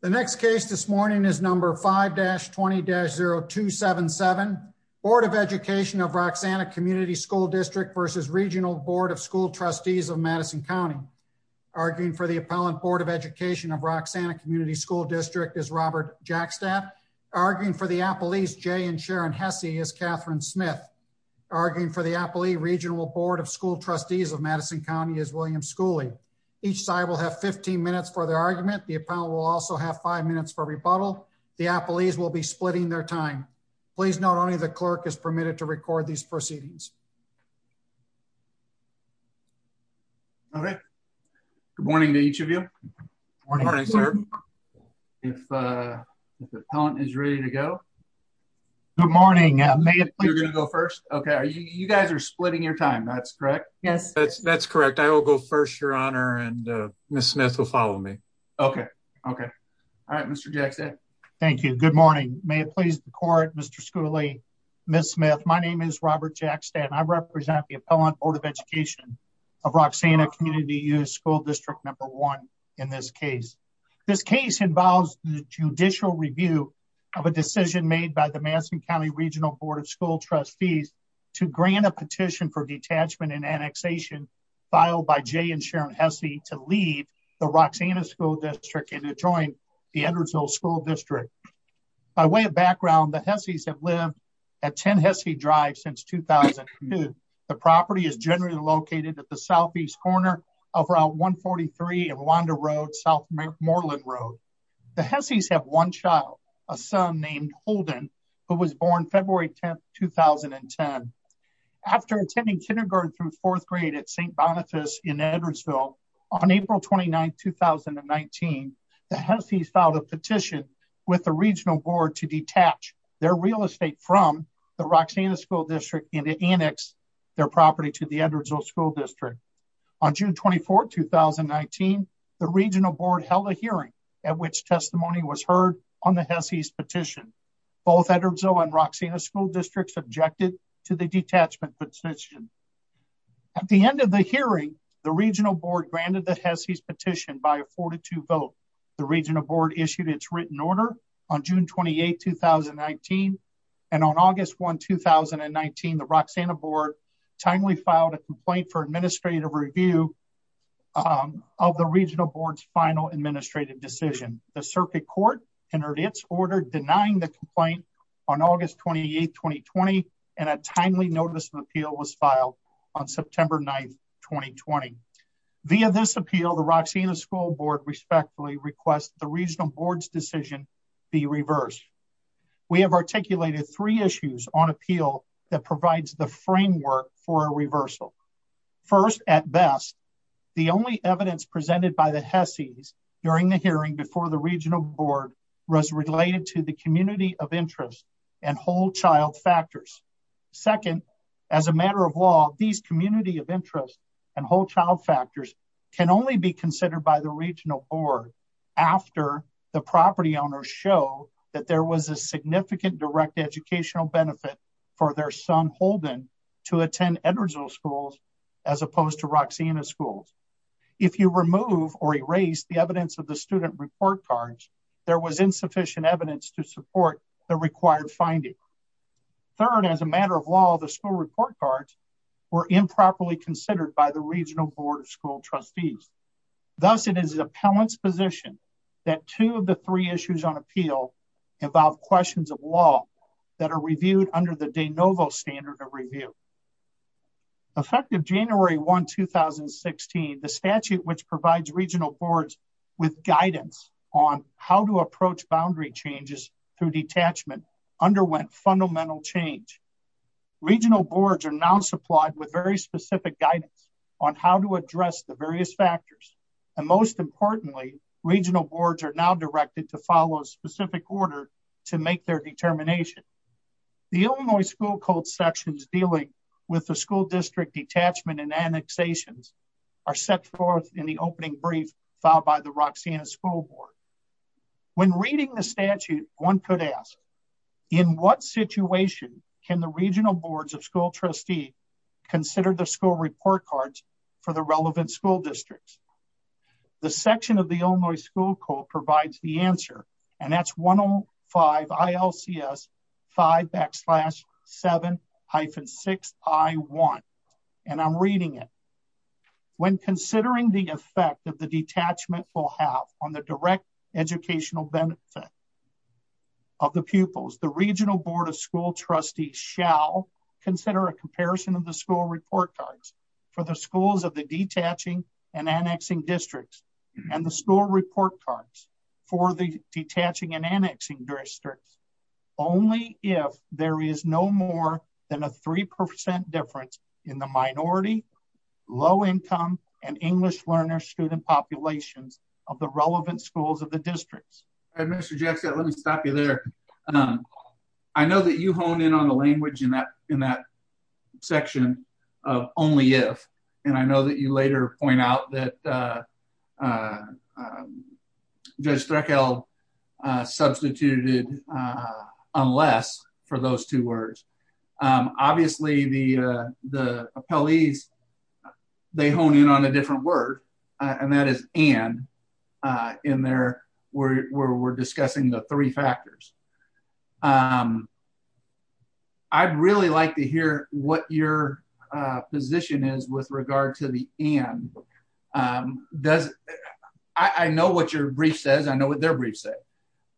The next case this morning is number 5-20-0277. Board of Education of Roxana Community School District versus Regional Board of School Trustees of Madison County. Arguing for the appellant Board of Education of Roxana Community School District is Robert Jackstap. Arguing for the appellees Jay and Sharon Hesse is Catherine Smith. Arguing for the appellee Regional Board of School Trustees of Madison County is William Schooley. Each side will have 15 minutes for their argument. The appellant will also have five minutes for rebuttal. The appellees will be splitting their time. Please note only the clerk is permitted to record these proceedings. Okay. Good morning to each of you. Good morning sir. If the appellant is ready to go. Good morning. You're going to go first? Okay. You guys are and Ms. Smith will follow me. Okay. Okay. All right Mr. Jackstap. Thank you. Good morning. May it please the court Mr. Schooley, Ms. Smith. My name is Robert Jackstap. I represent the appellant Board of Education of Roxana Community School District number one in this case. This case involves the judicial review of a decision made by the Madison County Regional Board of to leave the Roxana School District and to join the Edwardsville School District. By way of background, the Hesse's have lived at 10 Hesse Drive since 2002. The property is generally located at the southeast corner of Route 143 and Wanda Road, South Moreland Road. The Hesse's have one child, a son named Holden, who was born February 10, 2010. After attending kindergarten through fourth grade at St. Boniface in Edwardsville on April 29, 2019, the Hesse's filed a petition with the Regional Board to detach their real estate from the Roxana School District and to annex their property to the Edwardsville School District. On June 24, 2019, the Regional Board held a hearing at which testimony was heard on the detachment petition. At the end of the hearing, the Regional Board granted the Hesse's petition by a 4-2 vote. The Regional Board issued its written order on June 28, 2019. On August 1, 2019, the Roxana Board timely filed a complaint for administrative review of the Regional Board's final administrative decision. The Circuit Court entered its order denying the complaint on August 28, 2020, and a timely notice of appeal was filed on September 9, 2020. Via this appeal, the Roxana School Board respectfully requests the Regional Board's decision be reversed. We have articulated three issues on appeal that provides the framework for a reversal. First, at best, the only evidence presented by the Hesse's during the hearing before the Regional Board was related to the community of interest and whole child factors. Second, as a matter of law, these community of interest and whole child factors can only be considered by the Regional Board after the property owners show that there was a significant direct educational benefit for their son Holden to attend Edwardsville Schools as opposed to Roxana Schools. If you remove or erase the evidence of the student report cards, there was insufficient evidence to support the required finding. Third, as a matter of law, the school report cards were improperly considered by the Regional Board of School Trustees. Thus, it is the appellant's position that two of the three issues on appeal involve questions of law that are reviewed under the board's with guidance on how to approach boundary changes through detachment underwent fundamental change. Regional boards are now supplied with very specific guidance on how to address the various factors. And most importantly, regional boards are now directed to follow a specific order to make their determination. The Illinois school code sections dealing with the school district detachment and annexations are set forth in the opening brief filed by the Roxana School Board. When reading the statute, one could ask, in what situation can the regional boards of school trustee consider the school report cards for the relevant school districts? The section of the school report cards, the school report cards for the detaching and annexing districts. Only if there is no more than a 3% difference in the minority, low income, and English learner student populations of the relevant schools of the districts. Mr. Jackson, let me stop you there. I know that you hone in on the language in that section of only if, and I know that you later point out that Judge Streichel substituted unless for those two words. Obviously, the appellees, they hone in on a different word, and that is and in there where we're discussing the three factors. I'd really like to hear what your position is with regard to the and. I know what your brief says. I know what their briefs say.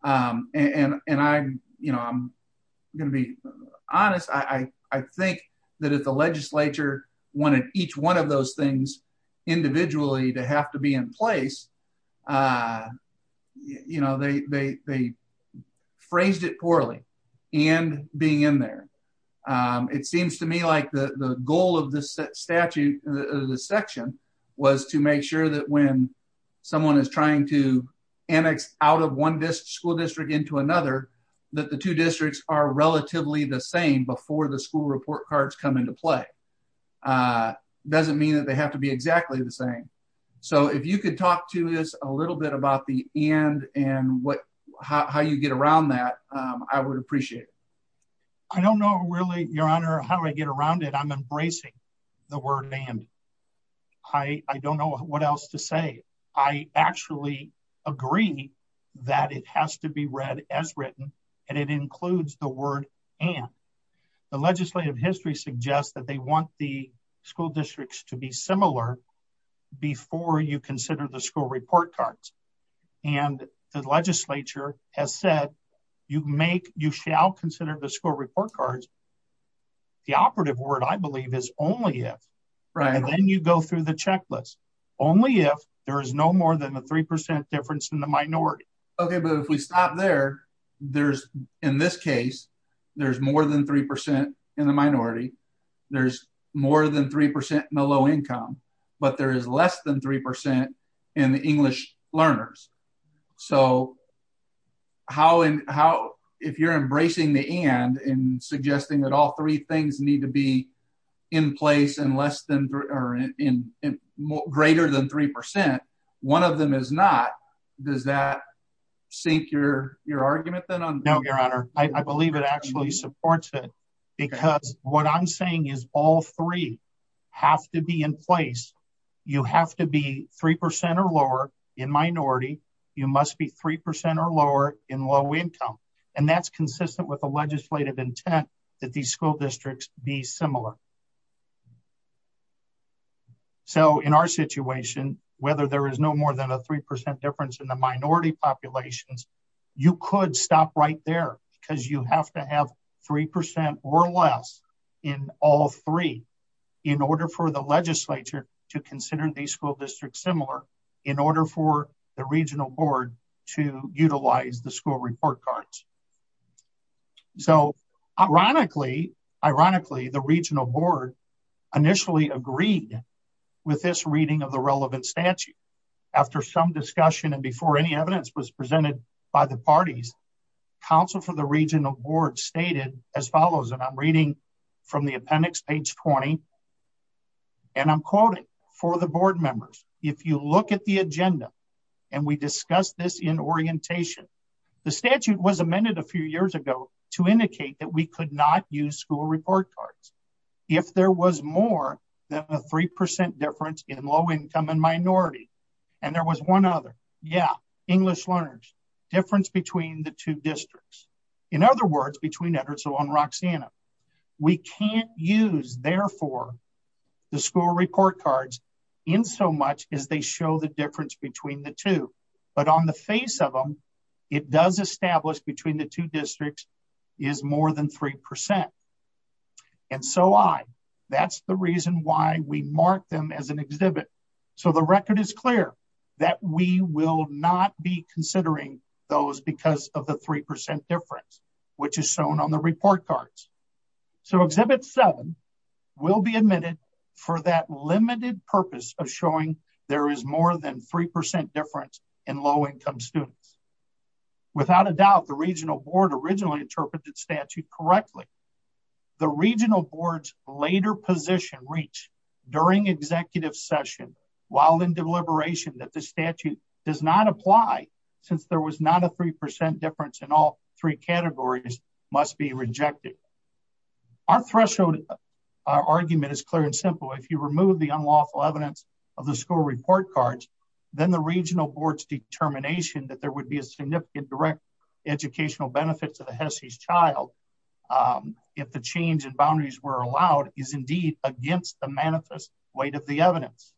I'm going to be honest. I think that if the legislature wanted each one of those things individually to have to be in place, they phrased it poorly and being in there. It seems to me like the goal of this section was to make sure that when someone is trying to annex out of one school district into another, that the two districts are relatively the same before the school report cards come into play. It doesn't mean that they have to be exactly the same. So if you could talk to us a little bit about the and and how you get around that, I would appreciate it. I don't know really, Your Honor, how I get around it. I'm embracing the word and. I don't know what else to say. I actually agree that it has to be read as written and it includes the word and. The legislative history suggests that they want the school districts to be similar before you consider the school report cards. And the legislature has said you make you shall consider the school report cards. The operative word, I believe, is only if. Right. And then you go through the checklist. Only if there is no more than a three percent difference in the minority. Okay, but if we stop there, there's in this case, there's more than 3% in the minority. There's more than 3% in the low income, but there is less than 3% in the English learners. So How and how, if you're embracing the and and suggesting that all three things need to be in place and less than or in greater than 3% one of them is not. Does that sink your, your argument that on now, Your Honor, I believe it actually supports it. Because what I'm saying is all three have to be in place. You have to be 3% or lower in minority, you must be 3% or lower in low income and that's consistent with the legislative intent that these school districts be similar. So, in our situation, whether there is no more than a 3% difference in the minority populations, you could stop right there because you have to have 3% or less in all three in order for the legislature to consider these school districts similar in order for the regional board to utilize the school report cards. So, ironically, ironically, the regional board initially agreed with this reading of the relevant statute after some discussion and before any evidence was presented by the parties Council for the regional board stated as follows, and I'm reading from the appendix page 20. And I'm quoting for the board members. If you look at the agenda. And we discussed this in orientation. The statute was amended a few years ago to indicate that we could not use school report cards. If there was more than a 3% difference in low income and minority and there was one other yeah English learners difference between the two districts. In other words, between Edwardsville and Roxanna. We can't use therefore the school report cards in so much as they show the difference between the two, but on the face of them. It does establish between the two districts is more than 3% And so I that's the reason why we mark them as an exhibit. So the record is clear that we will not be considering those because of the 3% difference, which is shown on the report cards. So exhibit seven will be admitted for that limited purpose of showing there is more than 3% difference in low income students. Without a doubt, the regional board originally interpreted statute correctly. The regional boards later position reach during executive session, while in deliberation that the statute does not apply, since there was not a 3% difference in all three categories must be rejected. Our threshold argument is clear and simple. If you remove the unlawful evidence of the school report cards, then the regional boards determination that there would be a significant direct educational benefits of the Hesse's child. If the change in boundaries were allowed is indeed against the manifest weight of the evidence.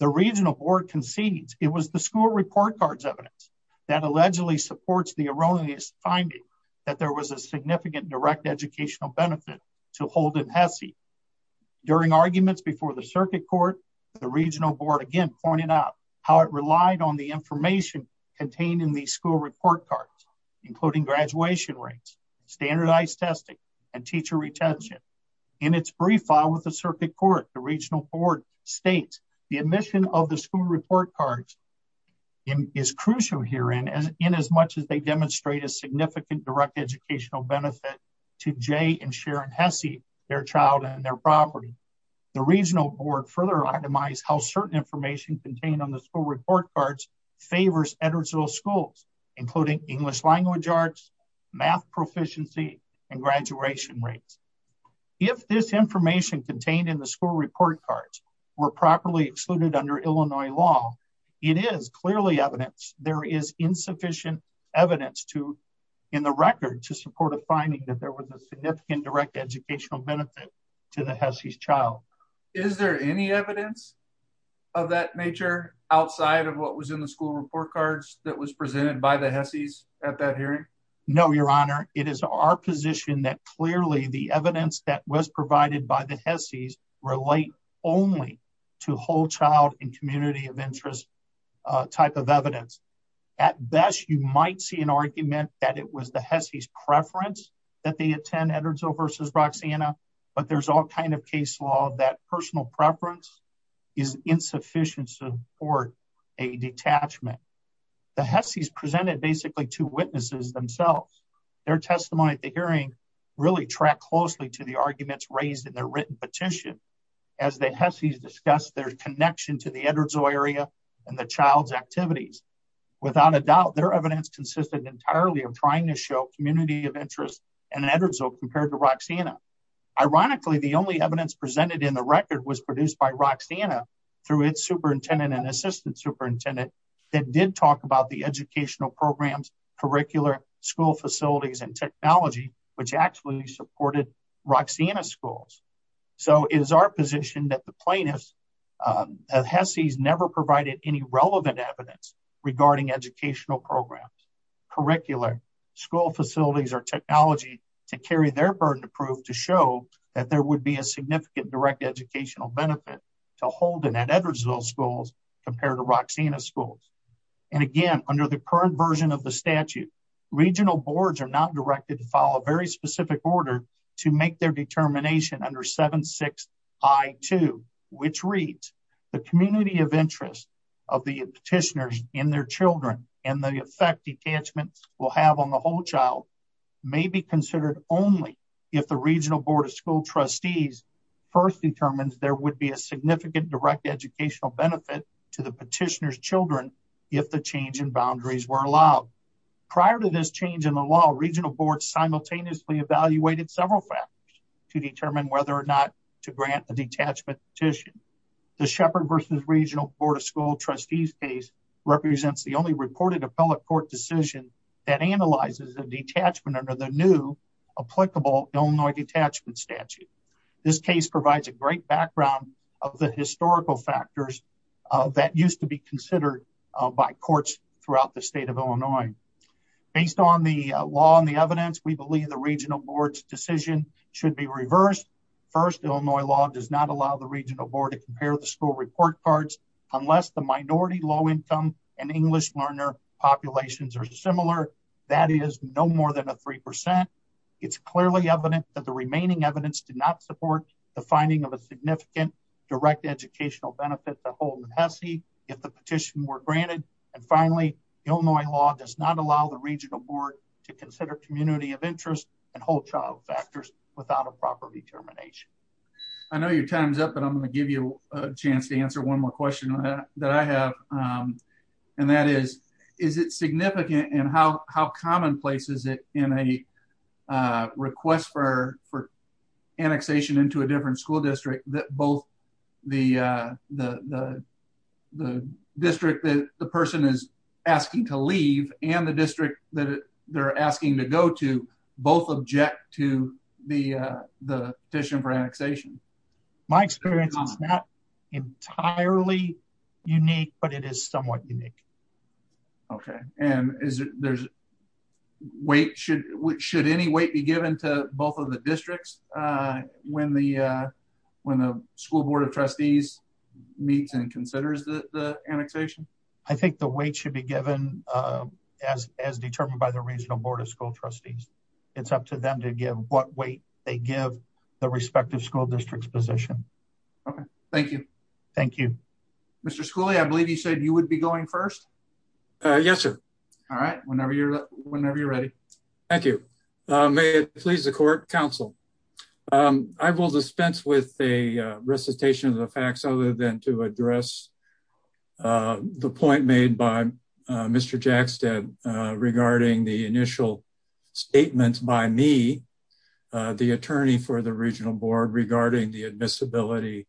The regional board concedes it was the school report cards evidence that allegedly supports the erroneous finding that there was a significant direct educational benefit to hold in Hesse. During arguments before the circuit court, the regional board again pointed out how it relied on the information contained in the school report cards. Including graduation rates, standardized testing and teacher retention. In its brief file with the circuit court, the regional board states the admission of the school report cards. Is crucial here in as in as much as they demonstrate a significant direct educational benefit to Jay and Sharon Hesse, their child and their property. The regional board further itemized how certain information contained on the school report cards favors educational schools, including English language arts, math proficiency and graduation rates. If this information contained in the school report cards were properly excluded under Illinois law, it is clearly evidence there is insufficient evidence to In the record to support a finding that there was a significant direct educational benefit to the Hesse's child. Is there any evidence of that nature outside of what was in the school report cards that was presented by the Hesse's at that hearing. No, Your Honor. It is our position that clearly the evidence that was provided by the Hesse's relate only to whole child and community of interest. type of evidence. At best, you might see an argument that it was the Hesse's preference that they attend Edwardsville versus Roxanna, but there's all kind of case law that personal preference. Is insufficient to support a detachment. The Hesse's presented basically two witnesses themselves. Their testimony at the hearing really track closely to the arguments raised in their written petition. As the Hesse's discussed their connection to the Edwardsville area and the child's activities. Without a doubt, their evidence consisted entirely of trying to show community of interest in Edwardsville compared to Roxanna. Ironically, the only evidence presented in the record was produced by Roxanna through its superintendent and assistant superintendent. That did talk about the educational programs, curricular school facilities and technology, which actually supported Roxanna schools. So it is our position that the plaintiff's Hesse's never provided any relevant evidence regarding educational programs, curricular school facilities or technology to carry their burden of proof to show that there would be a significant direct educational benefit to Holden at Edwardsville schools compared to Roxanna schools. And again, under the current version of the statute, regional boards are not directed to follow a very specific order to make their determination under 7-6 I-2 which reads The community of interest of the petitioners and their children and the effect detachment will have on the whole child may be considered only if the regional board of school trustees first determines there would be a significant direct educational benefit to the petitioners children if the change in boundaries were allowed. Prior to this change in the law, regional boards simultaneously evaluated several factors to determine whether or not to grant a detachment petition. The shepherd versus regional board of school trustees case represents the only reported appellate court decision that analyzes a detachment under the new applicable Illinois detachment statute. This case provides a great background of the historical factors that used to be considered by courts throughout the state of Illinois. Based on the law and the evidence, we believe the regional board's decision should be reversed. First, Illinois law does not allow the regional board to compare the school report cards unless the minority low income and English learner populations are similar. That is no more than a 3%. It's clearly evident that the remaining evidence did not support the finding of a significant direct educational benefit to Holden Hessey if the petition were granted. And finally, Illinois law does not allow the regional board to consider community of interest and whole child factors without a proper determination. I know your time's up, but I'm going to give you a chance to answer one more question that I have. And that is, is it significant and how commonplace is it in a request for annexation into a different school district that both the district that the person is asking to leave and the district that they're asking to go to both object to the petition for annexation? My experience is not entirely unique, but it is somewhat unique. Okay. And is there's weight, should, should any weight be given to both of the districts when the, when the school board of trustees meets and considers the annexation? I think the weight should be given as, as determined by the regional board of school trustees. It's up to them to give what weight they give the respective school districts position. Okay, thank you. Thank you. Mr. Schooley, I believe you said you would be going first. Yes, sir. All right. Whenever you're, whenever you're ready. Thank you. May it please the court counsel. I will dispense with a recitation of the facts other than to address the point made by Mr. Jackstead regarding the initial statements by me, the attorney for the regional board regarding the admissibility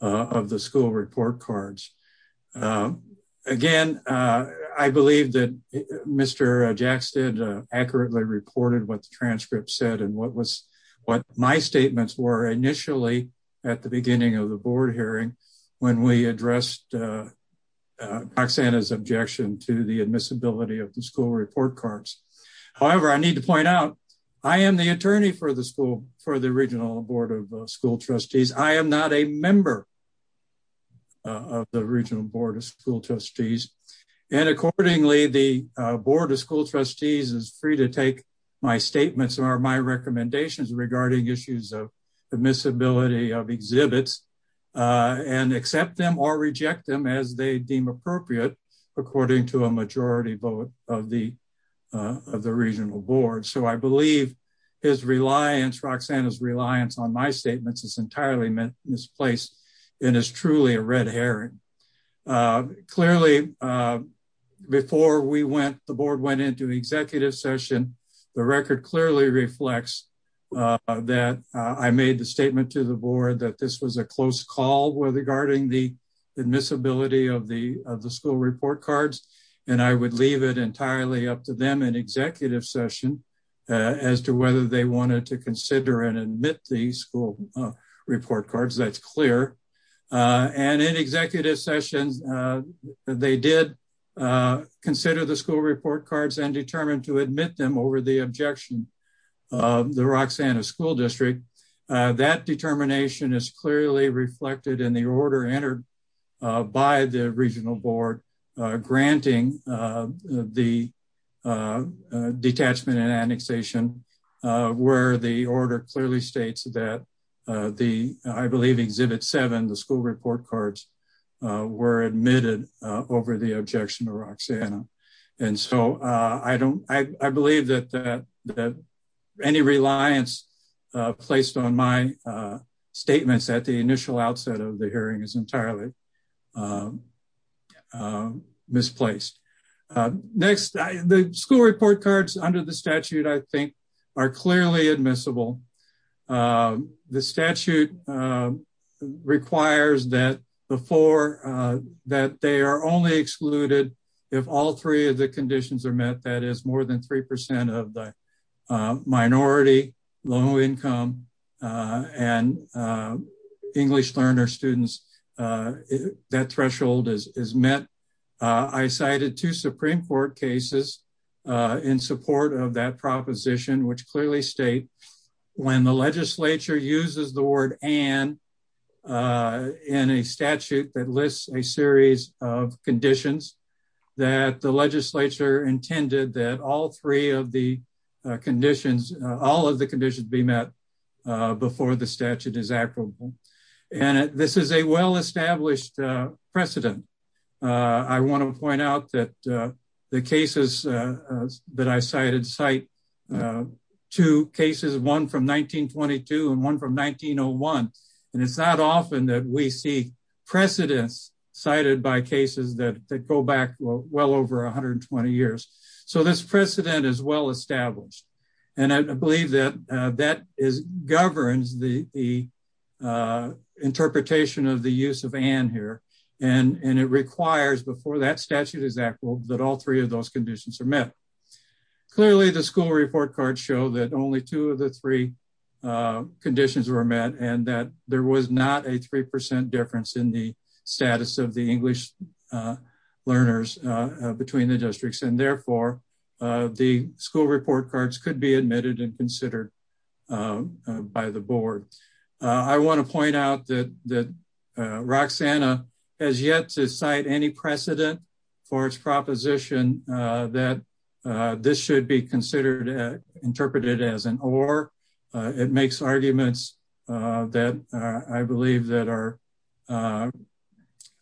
of the school report cards. Again, I believe that Mr. Jackstead accurately reported what the transcript said and what was, what my statements were initially at the beginning of the board hearing when we addressed Roxanna's objection to the admissibility of the school report cards. However, I need to point out, I am the attorney for the school, for the regional board of school trustees. I am not a member of the regional board of school trustees. And accordingly, the board of school trustees is free to take my statements or my recommendations regarding issues of admissibility of exhibits and accept them or reject them as they deem appropriate, according to a majority vote of the, of the regional board. So I believe his reliance, Roxanna's reliance on my statements is entirely misplaced and is truly a red herring. Clearly before we went, the board went into executive session, the record clearly reflects that I made the statement to the board that this was a close call regarding the admissibility of the, of the school report cards. And I would leave it entirely up to them in executive session as to whether they wanted to consider and admit the school report cards. That's clear. And in executive sessions, they did consider the school report cards and determined to admit them over the objection of the Roxanna school district. That determination is clearly reflected in the order entered by the regional board, granting the detachment and annexation where the order clearly states that the, I believe exhibit seven, the school report cards were admitted over the objection to Roxanna. And so I don't, I believe that, that any reliance placed on my statements at the initial outset of the hearing is entirely misplaced. Next, the school report cards under the statute, I think are clearly admissible. Um, the statute, um, requires that before, uh, that they are only excluded if all three of the conditions are met, that is more than 3% of the, uh, minority low income, uh, and, uh, English learner students, uh, that threshold is, is met. Uh, I cited two Supreme court cases, uh, in support of that proposition, which clearly state when the legislature uses the word and, uh, in a statute that lists a series of conditions that the legislature intended that all three of the conditions, all of the conditions be met, uh, before the statute is applicable. And this is a well-established, uh, precedent. Uh, I want to point out that, uh, the cases, uh, that I cited cite, uh, two cases, one from 1922 and one from 1901. And it's not often that we see precedence cited by cases that go back well over 120 years. So this precedent is well-established and I believe that, uh, that is governs the, the, uh, interpretation of the use of an here and it requires before that statute is that all three of those conditions are met. Clearly the school report card show that only two of the three, uh, conditions were met and that there was not a 3% difference in the status of the English, uh, learners, uh, between the could be admitted and considered, uh, uh, by the board. Uh, I want to point out that, that, uh, Roxanna has yet to cite any precedent for its proposition, uh, that, uh, this should be considered, uh, interpreted as an, or, uh, it makes arguments, uh, that, uh, I believe that are, uh,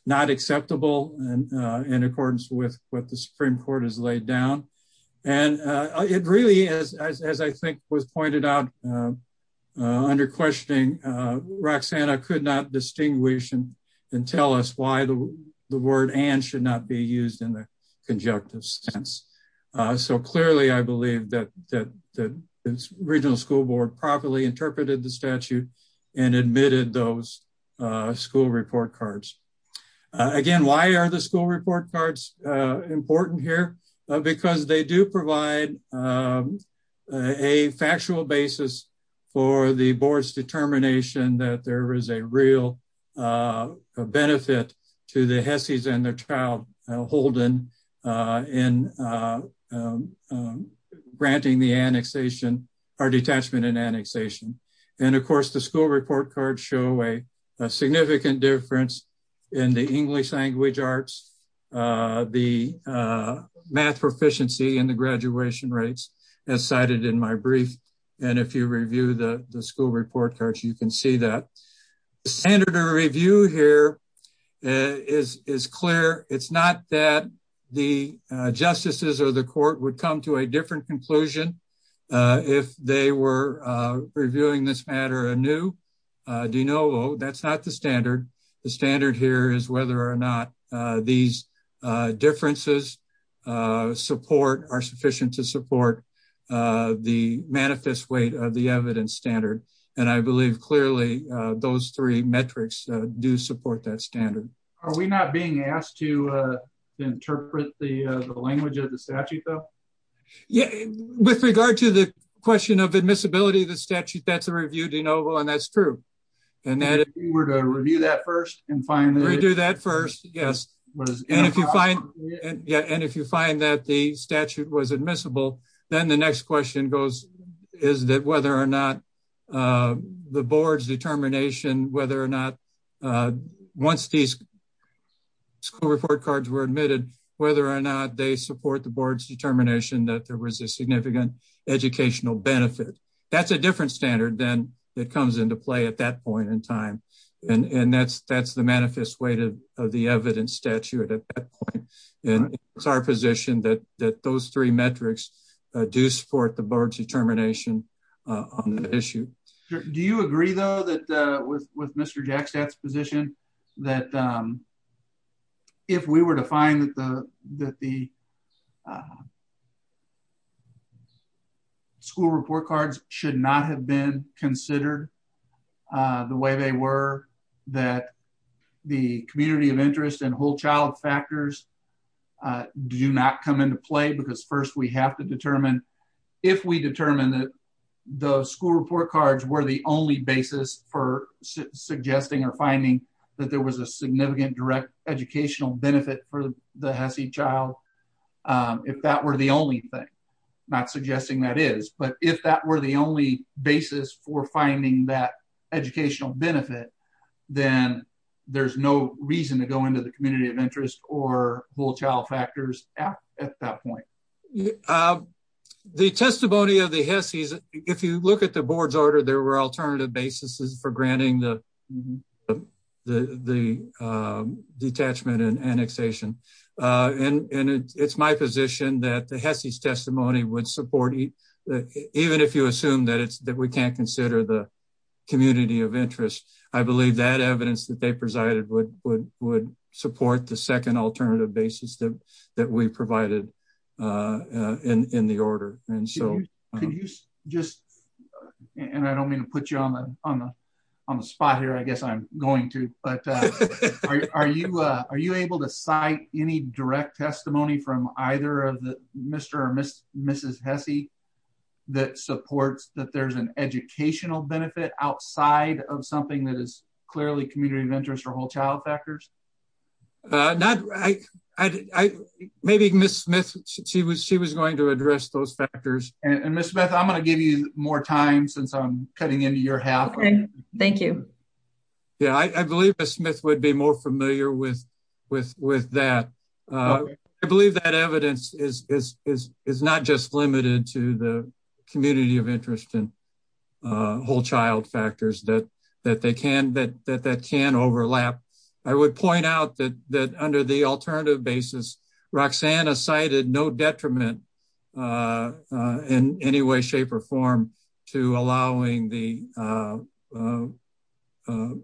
not acceptable and, uh, in accordance with what the Supreme court has laid down. And, uh, it really is, as, as I think was pointed out, uh, uh, under questioning, uh, Roxanna could not distinguish and, and tell us why the, the word and should not be used in the conjunctive sense. Uh, so clearly I believe that, that the regional school board properly interpreted the statute and admitted those, uh, school report cards. Uh, again, why are the school report cards, uh, important here? Uh, because they do provide, um, uh, a factual basis for the board's determination that there is a real, uh, benefit to the Hesseys and their child, uh, Holden, uh, in, uh, um, um, granting the annexation or detachment and annexation. And of course, the school report cards show a significant difference in the English language arts, uh, the, uh, math proficiency and the graduation rates as cited in my brief. And if you review the school report cards, you can see that standard of review here is, is clear. It's not that the, uh, justices or the court would come to a different conclusion, uh, if they were, uh, reviewing this matter anew, uh, do you know, that's not the standard. The standard here is whether or not, uh, these, uh, differences, uh, support are sufficient to support, uh, the manifest weight of the evidence standard. And I believe clearly, uh, those three metrics, uh, do support that standard. Are we not being asked to, uh, interpret the, uh, the language of the statute though? Yeah, with regard to the question of admissibility of the statute, that's a review de novo and that's true. And that if we were to review that first and finally do that first. Yes. And if you find, yeah. And if you find that the statute was admissible, then the next question goes, is that whether or not, uh, the board's determination, whether or not, uh, once these school report cards were admitted, whether or not they support the board's determination that there was a significant educational benefit. That's a different standard than that comes into play at that point in time. And, and that's, that's the manifest way to, uh, the evidence statute at that point. And it's our position that, that those three metrics do support the board's determination, uh, on the issue. Do you agree though, that, uh, with, with Mr. Jack stats position that, um, if we were to find that the, that the, uh, school report cards should not have been considered, uh, the way they were that the community of interest and whole child factors, uh, do not come into play because first we have to determine if we determined that the school report cards were the only basis for suggesting or finding that there was a significant direct educational benefit for the HESI child. Um, if that were the only thing not suggesting that is, but if that were the only basis for finding that educational benefit, then there's no reason to go into the community of interest or child factors at that point. Yeah. Um, the testimony of the HESIs, if you look at the board's order, there were alternative basis for granting the, the, the, um, detachment and annexation. Uh, and, and it's my position that the HESIs testimony would support even if you assume that it's, that we can't consider the community of interest. I believe that evidence that they presided would, would, would support the second alternative basis that, that we provided, uh, uh, in, in the order. And so can you just, and I don't mean to put you on the, on the, on the spot here, I guess I'm going to, but, uh, are you, uh, are you able to cite any direct testimony from either of the Mr. Or Mrs. HESI that supports that there's an educational benefit outside of something that is clearly community of interest or whole child factors? Uh, not, I, I, maybe Ms. Smith, she was, she was going to address those factors and Ms. Smith, I'm going to give you more time since I'm cutting into your half. Okay. Thank you. Yeah. I believe Ms. Smith would be more familiar with, with, with that. Uh, I believe that evidence is, is, is, is not just that they can, that, that, that can overlap. I would point out that, that under the alternative basis, Roxanna cited no detriment, uh, uh, in any way, shape or form to allowing the, uh, uh, uh,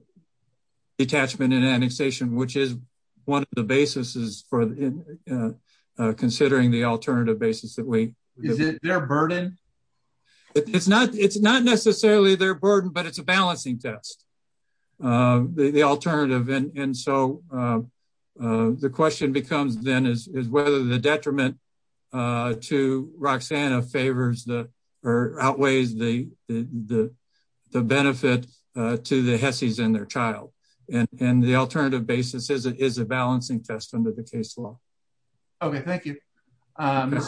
detachment and annexation, which is one of the basis is for, uh, uh, uh, considering the alternative basis that we. Is it their burden? It's not, it's not necessarily their burden, but it's a balancing test, uh, the, the alternative. And, and so, uh, uh, the question becomes then is, is whether the detriment, uh, to Roxanna favors the, or outweighs the, the, the, the benefit, uh, to the HESIs and their child and, and the alternative basis is, it is a balancing test under the case law. Okay. Thank you. Um,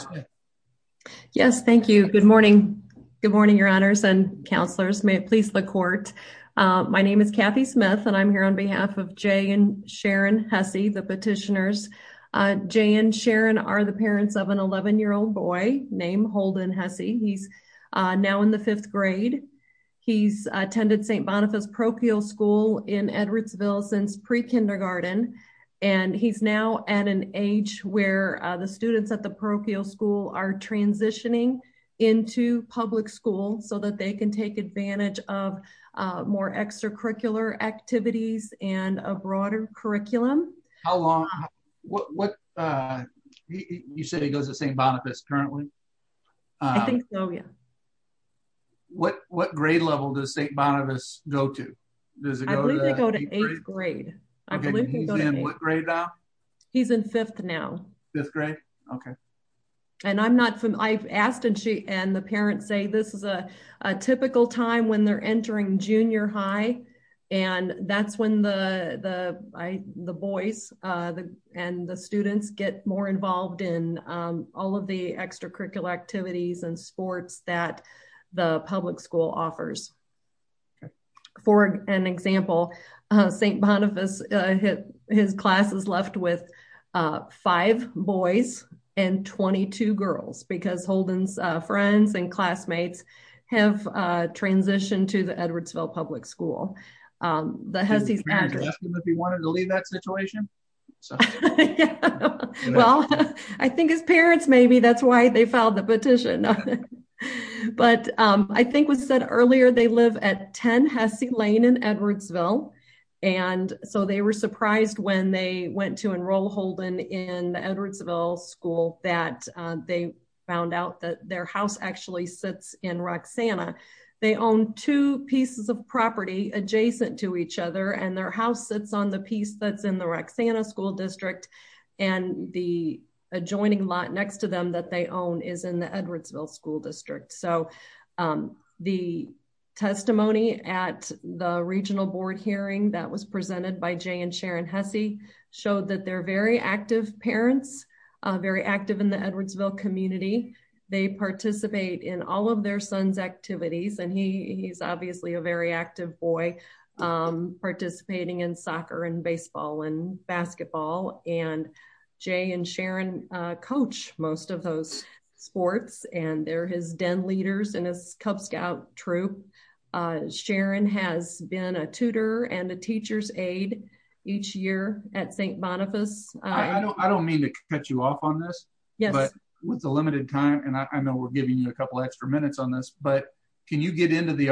yes, thank you. Good morning. Good morning, your honors and counselors. May it please the court. Uh, my name is Kathy Smith and I'm here on behalf of Jay and Sharon Hesse, the petitioners. Uh, Jay and Sharon are the parents of an 11 year old boy named Holden Hesse. He's, uh, now in the fifth grade. He's attended St. Boniface parochial school in Edwardsville since pre-kindergarten. And he's now at an age where the students at the parochial school are transitioning into public school so that they can take advantage of, uh, more extracurricular activities and a broader curriculum. How long, what, what, uh, you said he goes to St. Boniface currently? I think so, yeah. What, what grade level does St. Boniface go to? Does it go to eighth grade? I believe he's in what grade now? He's in fifth now. Fifth grade. Okay. And I'm not from, I've asked and she, and the parents say, this is a, a typical time when they're entering junior high. And that's when the, the, I, the boys, uh, the, and the students get more involved in, um, all of the extracurricular activities and sports that the public school offers. Okay. For an example, uh, St. Boniface, uh, his class is left with, uh, five boys and 22 girls because Holden's, uh, friends and classmates have, uh, transitioned to the Edwardsville public school. Um, the Hesse's... Did his parents ask him if he wanted to leave that situation? Well, I think his parents, maybe that's why they filed the petition. Okay. But, um, I think was said earlier, they live at 10 Hesse Lane in Edwardsville. And so they were surprised when they went to enroll Holden in the Edwardsville school that, uh, they found out that their house actually sits in Roxanna. They own two pieces of property adjacent to each other and their house sits on the piece that's in the Roxanna school district. And the adjoining lot next to them that they own is in the Edwardsville school district. So, um, the testimony at the regional board hearing that was presented by Jay and Sharon Hesse showed that they're very active parents, uh, very active in the Edwardsville community. They participate in all of their son's activities. And he, he's obviously a very active boy, um, participating in soccer and baseball and basketball and Jay and Sharon, uh, coach most of those sports and they're his den leaders and his Cub Scout troop. Uh, Sharon has been a tutor and a teacher's aide each year at St. Boniface. I don't mean to cut you off on this, but with the limited time, and I know we're giving you a couple extra minutes on this, but can you get into the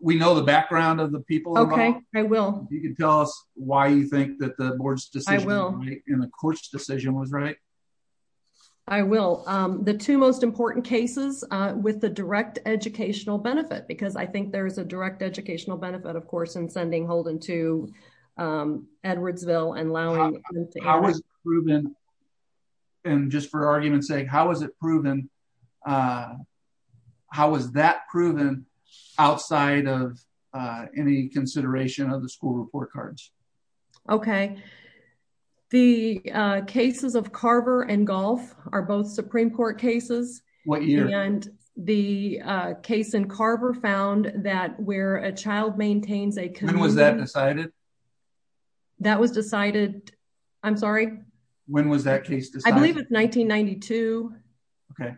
we know the background of the people? Okay. I will. You can tell us why you think that the board's decision in the court's decision was right. I will. Um, the two most important cases, uh, with the direct educational benefit, because I think there's a direct educational benefit, of course, in sending Holden to, um, Edwardsville and allowing, how was it proven? And just for argument's sake, how was it proven? Uh, how was that proven outside of, uh, any consideration of the school report cards? Okay. The, uh, cases of Carver and golf are both Supreme court cases. And the, uh, case in Carver found that where a child maintains When was that decided? That was decided. I'm sorry. When was that case decided? I believe it's 1992. Okay.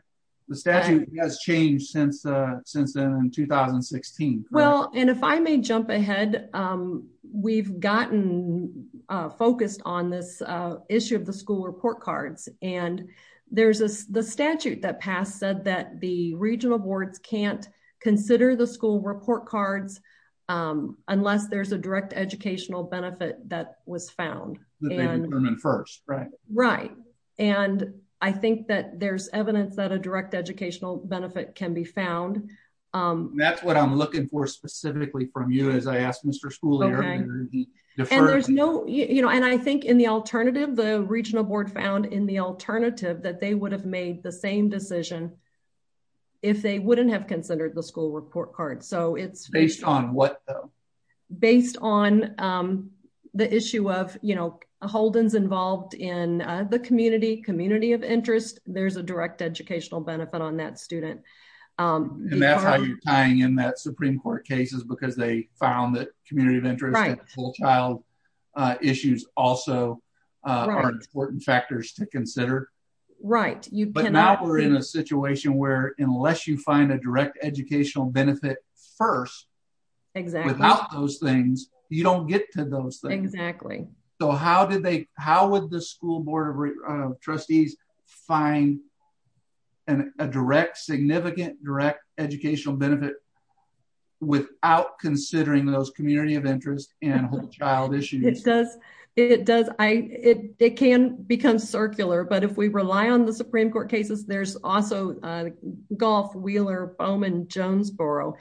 The statute has changed since, uh, since then in 2016. Well, and if I may jump ahead, um, we've gotten, uh, focused on this, uh, issue of the school report cards. And there's this, the statute that passed said that the regional boards can't consider the school report cards, um, unless there's a direct educational benefit that was found first. Right. Right. And I think that there's evidence that a direct educational benefit can be found. Um, that's what I'm looking for specifically from you, as I asked Mr. Schooley, there's no, you know, and I think in the alternative, the regional board found in the alternative that they would have made the same decision if they wouldn't have considered the school report card. So it's based on what though, based on, um, the issue of, you know, Holden's involved in the community, community of interest, there's a direct educational benefit on that student. Um, and that's how you're tying in that Supreme court cases because they found that community of interest, uh, issues also, uh, are in a situation where unless you find a direct educational benefit first, without those things, you don't get to those things. So how did they, how would the school board of trustees find an, a direct significant direct educational benefit without considering those community of interest and whole child issues? It does. It does. I, it, it can become circular, but if we also, uh, golf Wheeler Bowman Jonesboro,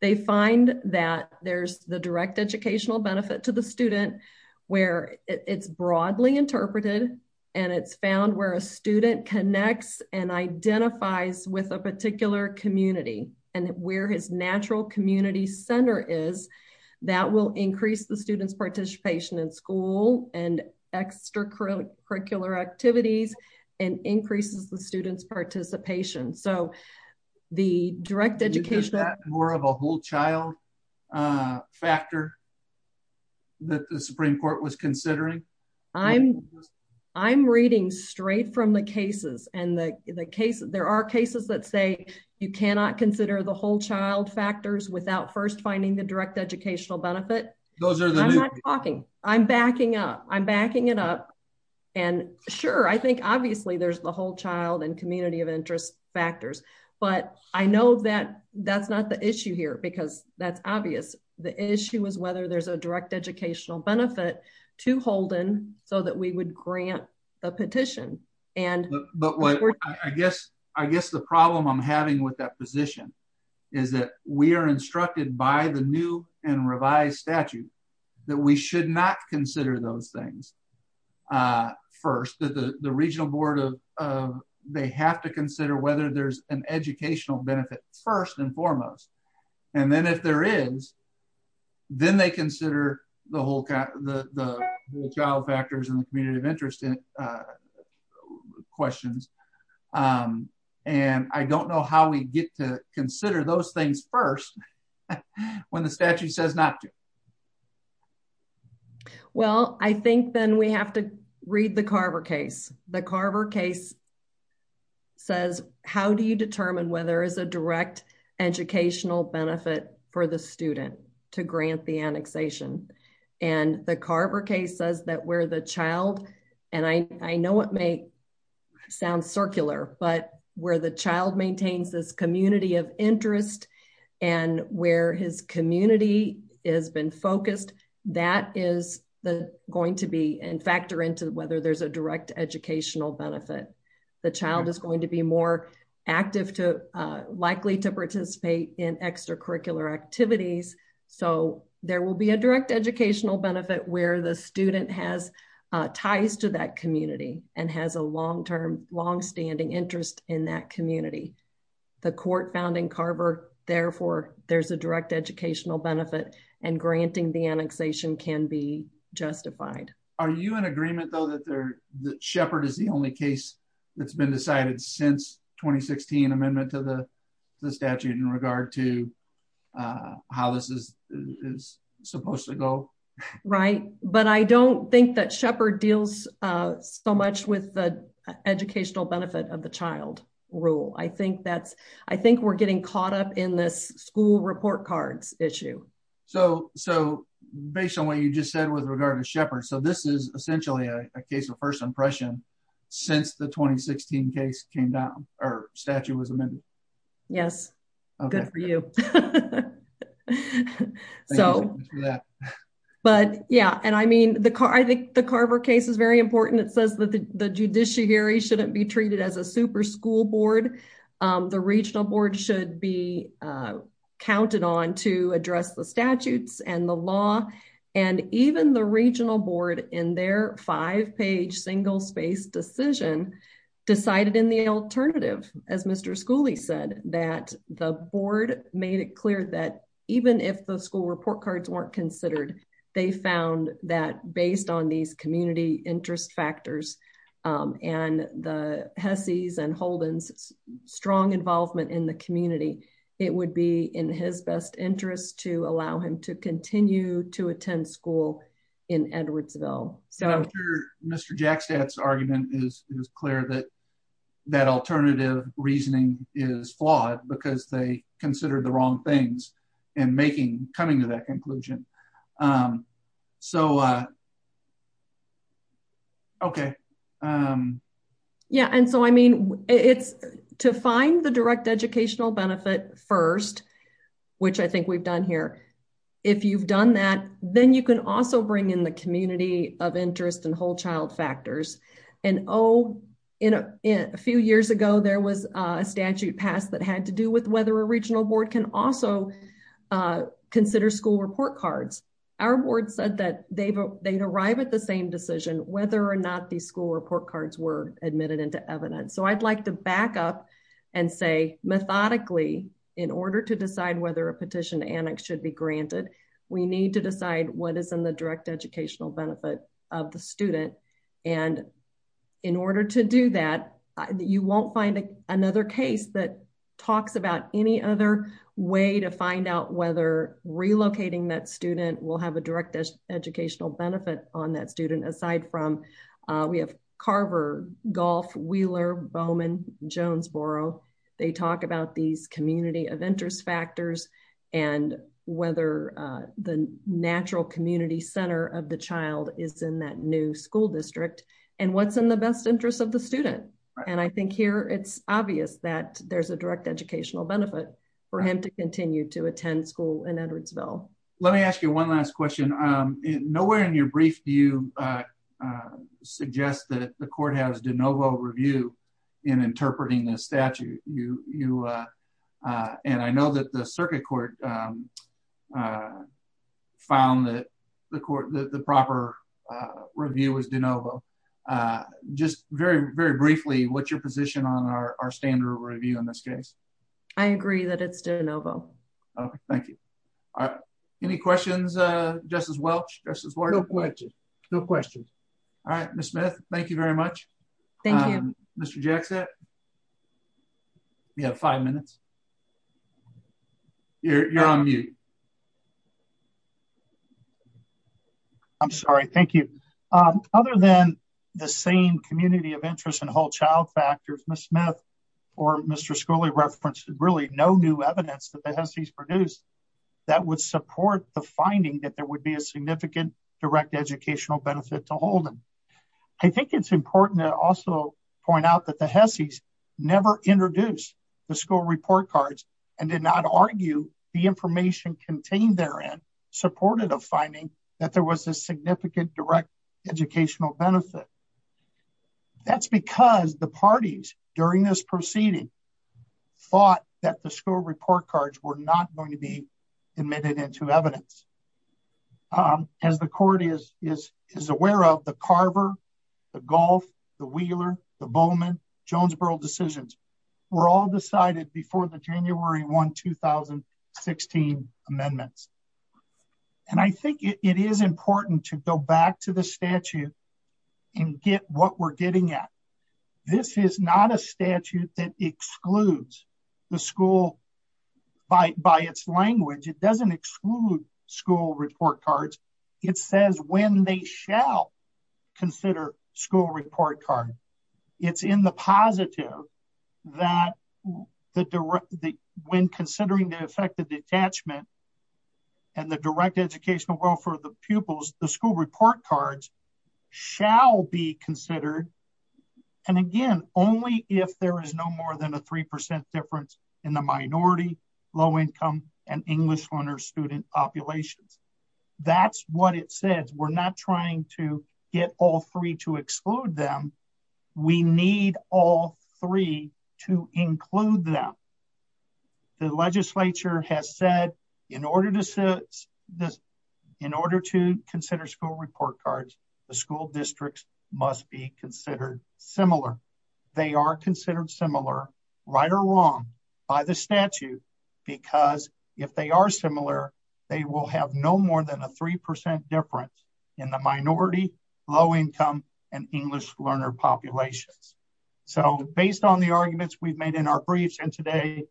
they find that there's the direct educational benefit to the student where it's broadly interpreted. And it's found where a student connects and identifies with a particular community and where his natural community center is that will increase the student's participation in school and extracurricular activities and increases the student's participation. So the direct education, more of a whole child, uh, factor that the Supreme court was considering. I'm, I'm reading straight from the cases and the case, there are cases that say you cannot consider the whole child factors without first finding the direct educational benefit. I'm not talking, I'm backing up. I'm backing it up. And sure. I think obviously there's the whole child and community of interest factors, but I know that that's not the issue here because that's obvious. The issue is whether there's a direct educational benefit to Holden so that we would grant the petition. And I guess, I guess the problem I'm having with that position is that we are instructed by the new and revised statute that we should not consider those things. Uh, first that the, the regional board of, of they have to consider whether there's an educational benefit first and foremost. And then if there is, then they consider the whole, the, the child factors in the community of interest in, uh, questions. Um, and I don't know how we get to consider those things first when the statute says not to. Well, I think then we have to read the Carver case. The Carver case says, how do you determine whether it's a direct educational benefit for the student to grant the annexation? And the Carver case says that where the child, and I know it may sound circular, but where the child maintains this community of interest and where his community has been focused, that is the going to be and factor into whether there's a direct educational benefit. The child is going to be more active to, uh, likely to participate in extracurricular activities. So there will be a direct educational benefit where the student has, uh, ties to that community and has a long-term, longstanding interest in that community. The court found in Carver, therefore, there's a direct educational benefit and granting the annexation can be justified. Are you in agreement though, that they're, that Sheppard is the only case that's been decided since 2016 amendment to the statute in regard to, uh, how this is supposed to go? Right. But I don't think that Sheppard deals, uh, so much with the educational benefit of the child rule. I think that's, I think we're getting caught up in this school report cards issue. So, so based on what you just said with regard to Sheppard, so this is essentially a case of first impression since the 2016 case came down or statute was amended. Yes. Good for you. So, but yeah, and I mean the car, I think the Carver case is very important. It says that the, the judiciary shouldn't be treated as a super school board. Um, the regional board should be, uh, counted on to address the statutes and the law and even the regional board in their five page single space decision decided in the alternative, as Mr. Schooley said, that the board made it clear that even if the school report cards weren't considered, they found that based on these community interest factors, um, and the Hesse's and Holden's strong involvement in the community, it would be in his best interest to allow him to continue to attend school in Edwardsville. So Mr. Jack stats argument is, it was clear that that alternative reasoning is flawed because they considered the wrong things and making coming to that conclusion. Um, so, uh, okay. Um, yeah. And so, I mean, it's to find the direct educational benefit first, which I think we've done here. If you've done that, then you can also bring in the community of interest and whole child factors. And, oh, in a few years ago, there was a statute passed that had to do with whether a regional board can also, uh, consider school report cards. Our board said that they've, uh, they'd arrive at the same decision, whether or not the school report cards were admitted into evidence. So I'd like to back up and say methodically in order to decide whether a petition annex should be granted, we need to decide what another case that talks about any other way to find out whether relocating that student will have a direct educational benefit on that student. Aside from, uh, we have Carver, golf, Wheeler, Bowman, Jonesboro. They talk about these community of interest factors and whether, uh, the natural community center of the child is in that new school district and what's in the best interest of the student. And I think here it's obvious that there's a direct educational benefit for him to continue to attend school in Edwardsville. Let me ask you one last question. Um, nowhere in your brief do you, uh, uh, suggest that the court has de novo review in interpreting the statute? You, you, uh, uh, and I know that the circuit court, um, uh, found that the court, the proper, uh, review was de novo. Uh, just very, very briefly, what's your position on our, our standard review in this case? I agree that it's de novo. Okay. Thank you. All right. Any questions? Uh, Justice Welch, just as well. No questions. No questions. All right, Ms. Smith. Thank you very much, Mr. Jackson. You have five minutes. You're on mute. I'm sorry. Thank you. Um, other than the same community of interest and whole child factors, Ms. Smith or Mr. Schooley referenced really no new evidence that the Hesse's produced that would support the finding that there would be a significant direct educational benefit to never introduce the school report cards and did not argue the information contained therein supported of finding that there was a significant direct educational benefit. That's because the parties during this proceeding thought that the school report cards were not going to be admitted into evidence. Um, as the court is, is, is aware of the Carver, the golf, the Wheeler, the Bowman Jonesboro decisions were all decided before the January one, 2016 amendments. And I think it is important to go back to the statute and get what we're getting at. This is not a statute that excludes the school by, by its school report card. It's in the positive that the direct, the, when considering the effect of detachment and the direct educational welfare, the pupils, the school report cards shall be considered. And again, only if there is no more than a 3% difference in the minority, low income and English learner student populations. That's what it says. We're not trying to get all three to exclude them. We need all three to include them. The legislature has said in order to sit this in order to consider school report cards, the school districts must be considered similar. They are considered similar right or wrong by the statute because if they are similar, they will have no more than a 3% difference in the minority, low income and English learner populations. So based on the arguments we've made in our briefs and today,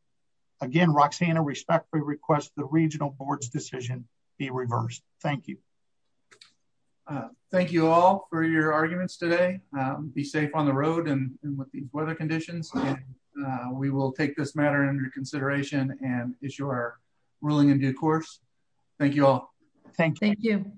again, Roxanna respectfully request the regional board's decision be reversed. Thank you. Uh, thank you all for your arguments today. Um, be safe on the road and with these weather conditions. Uh, we will take this matter under consideration and issue our ruling in due course. Thank you all. Thank you.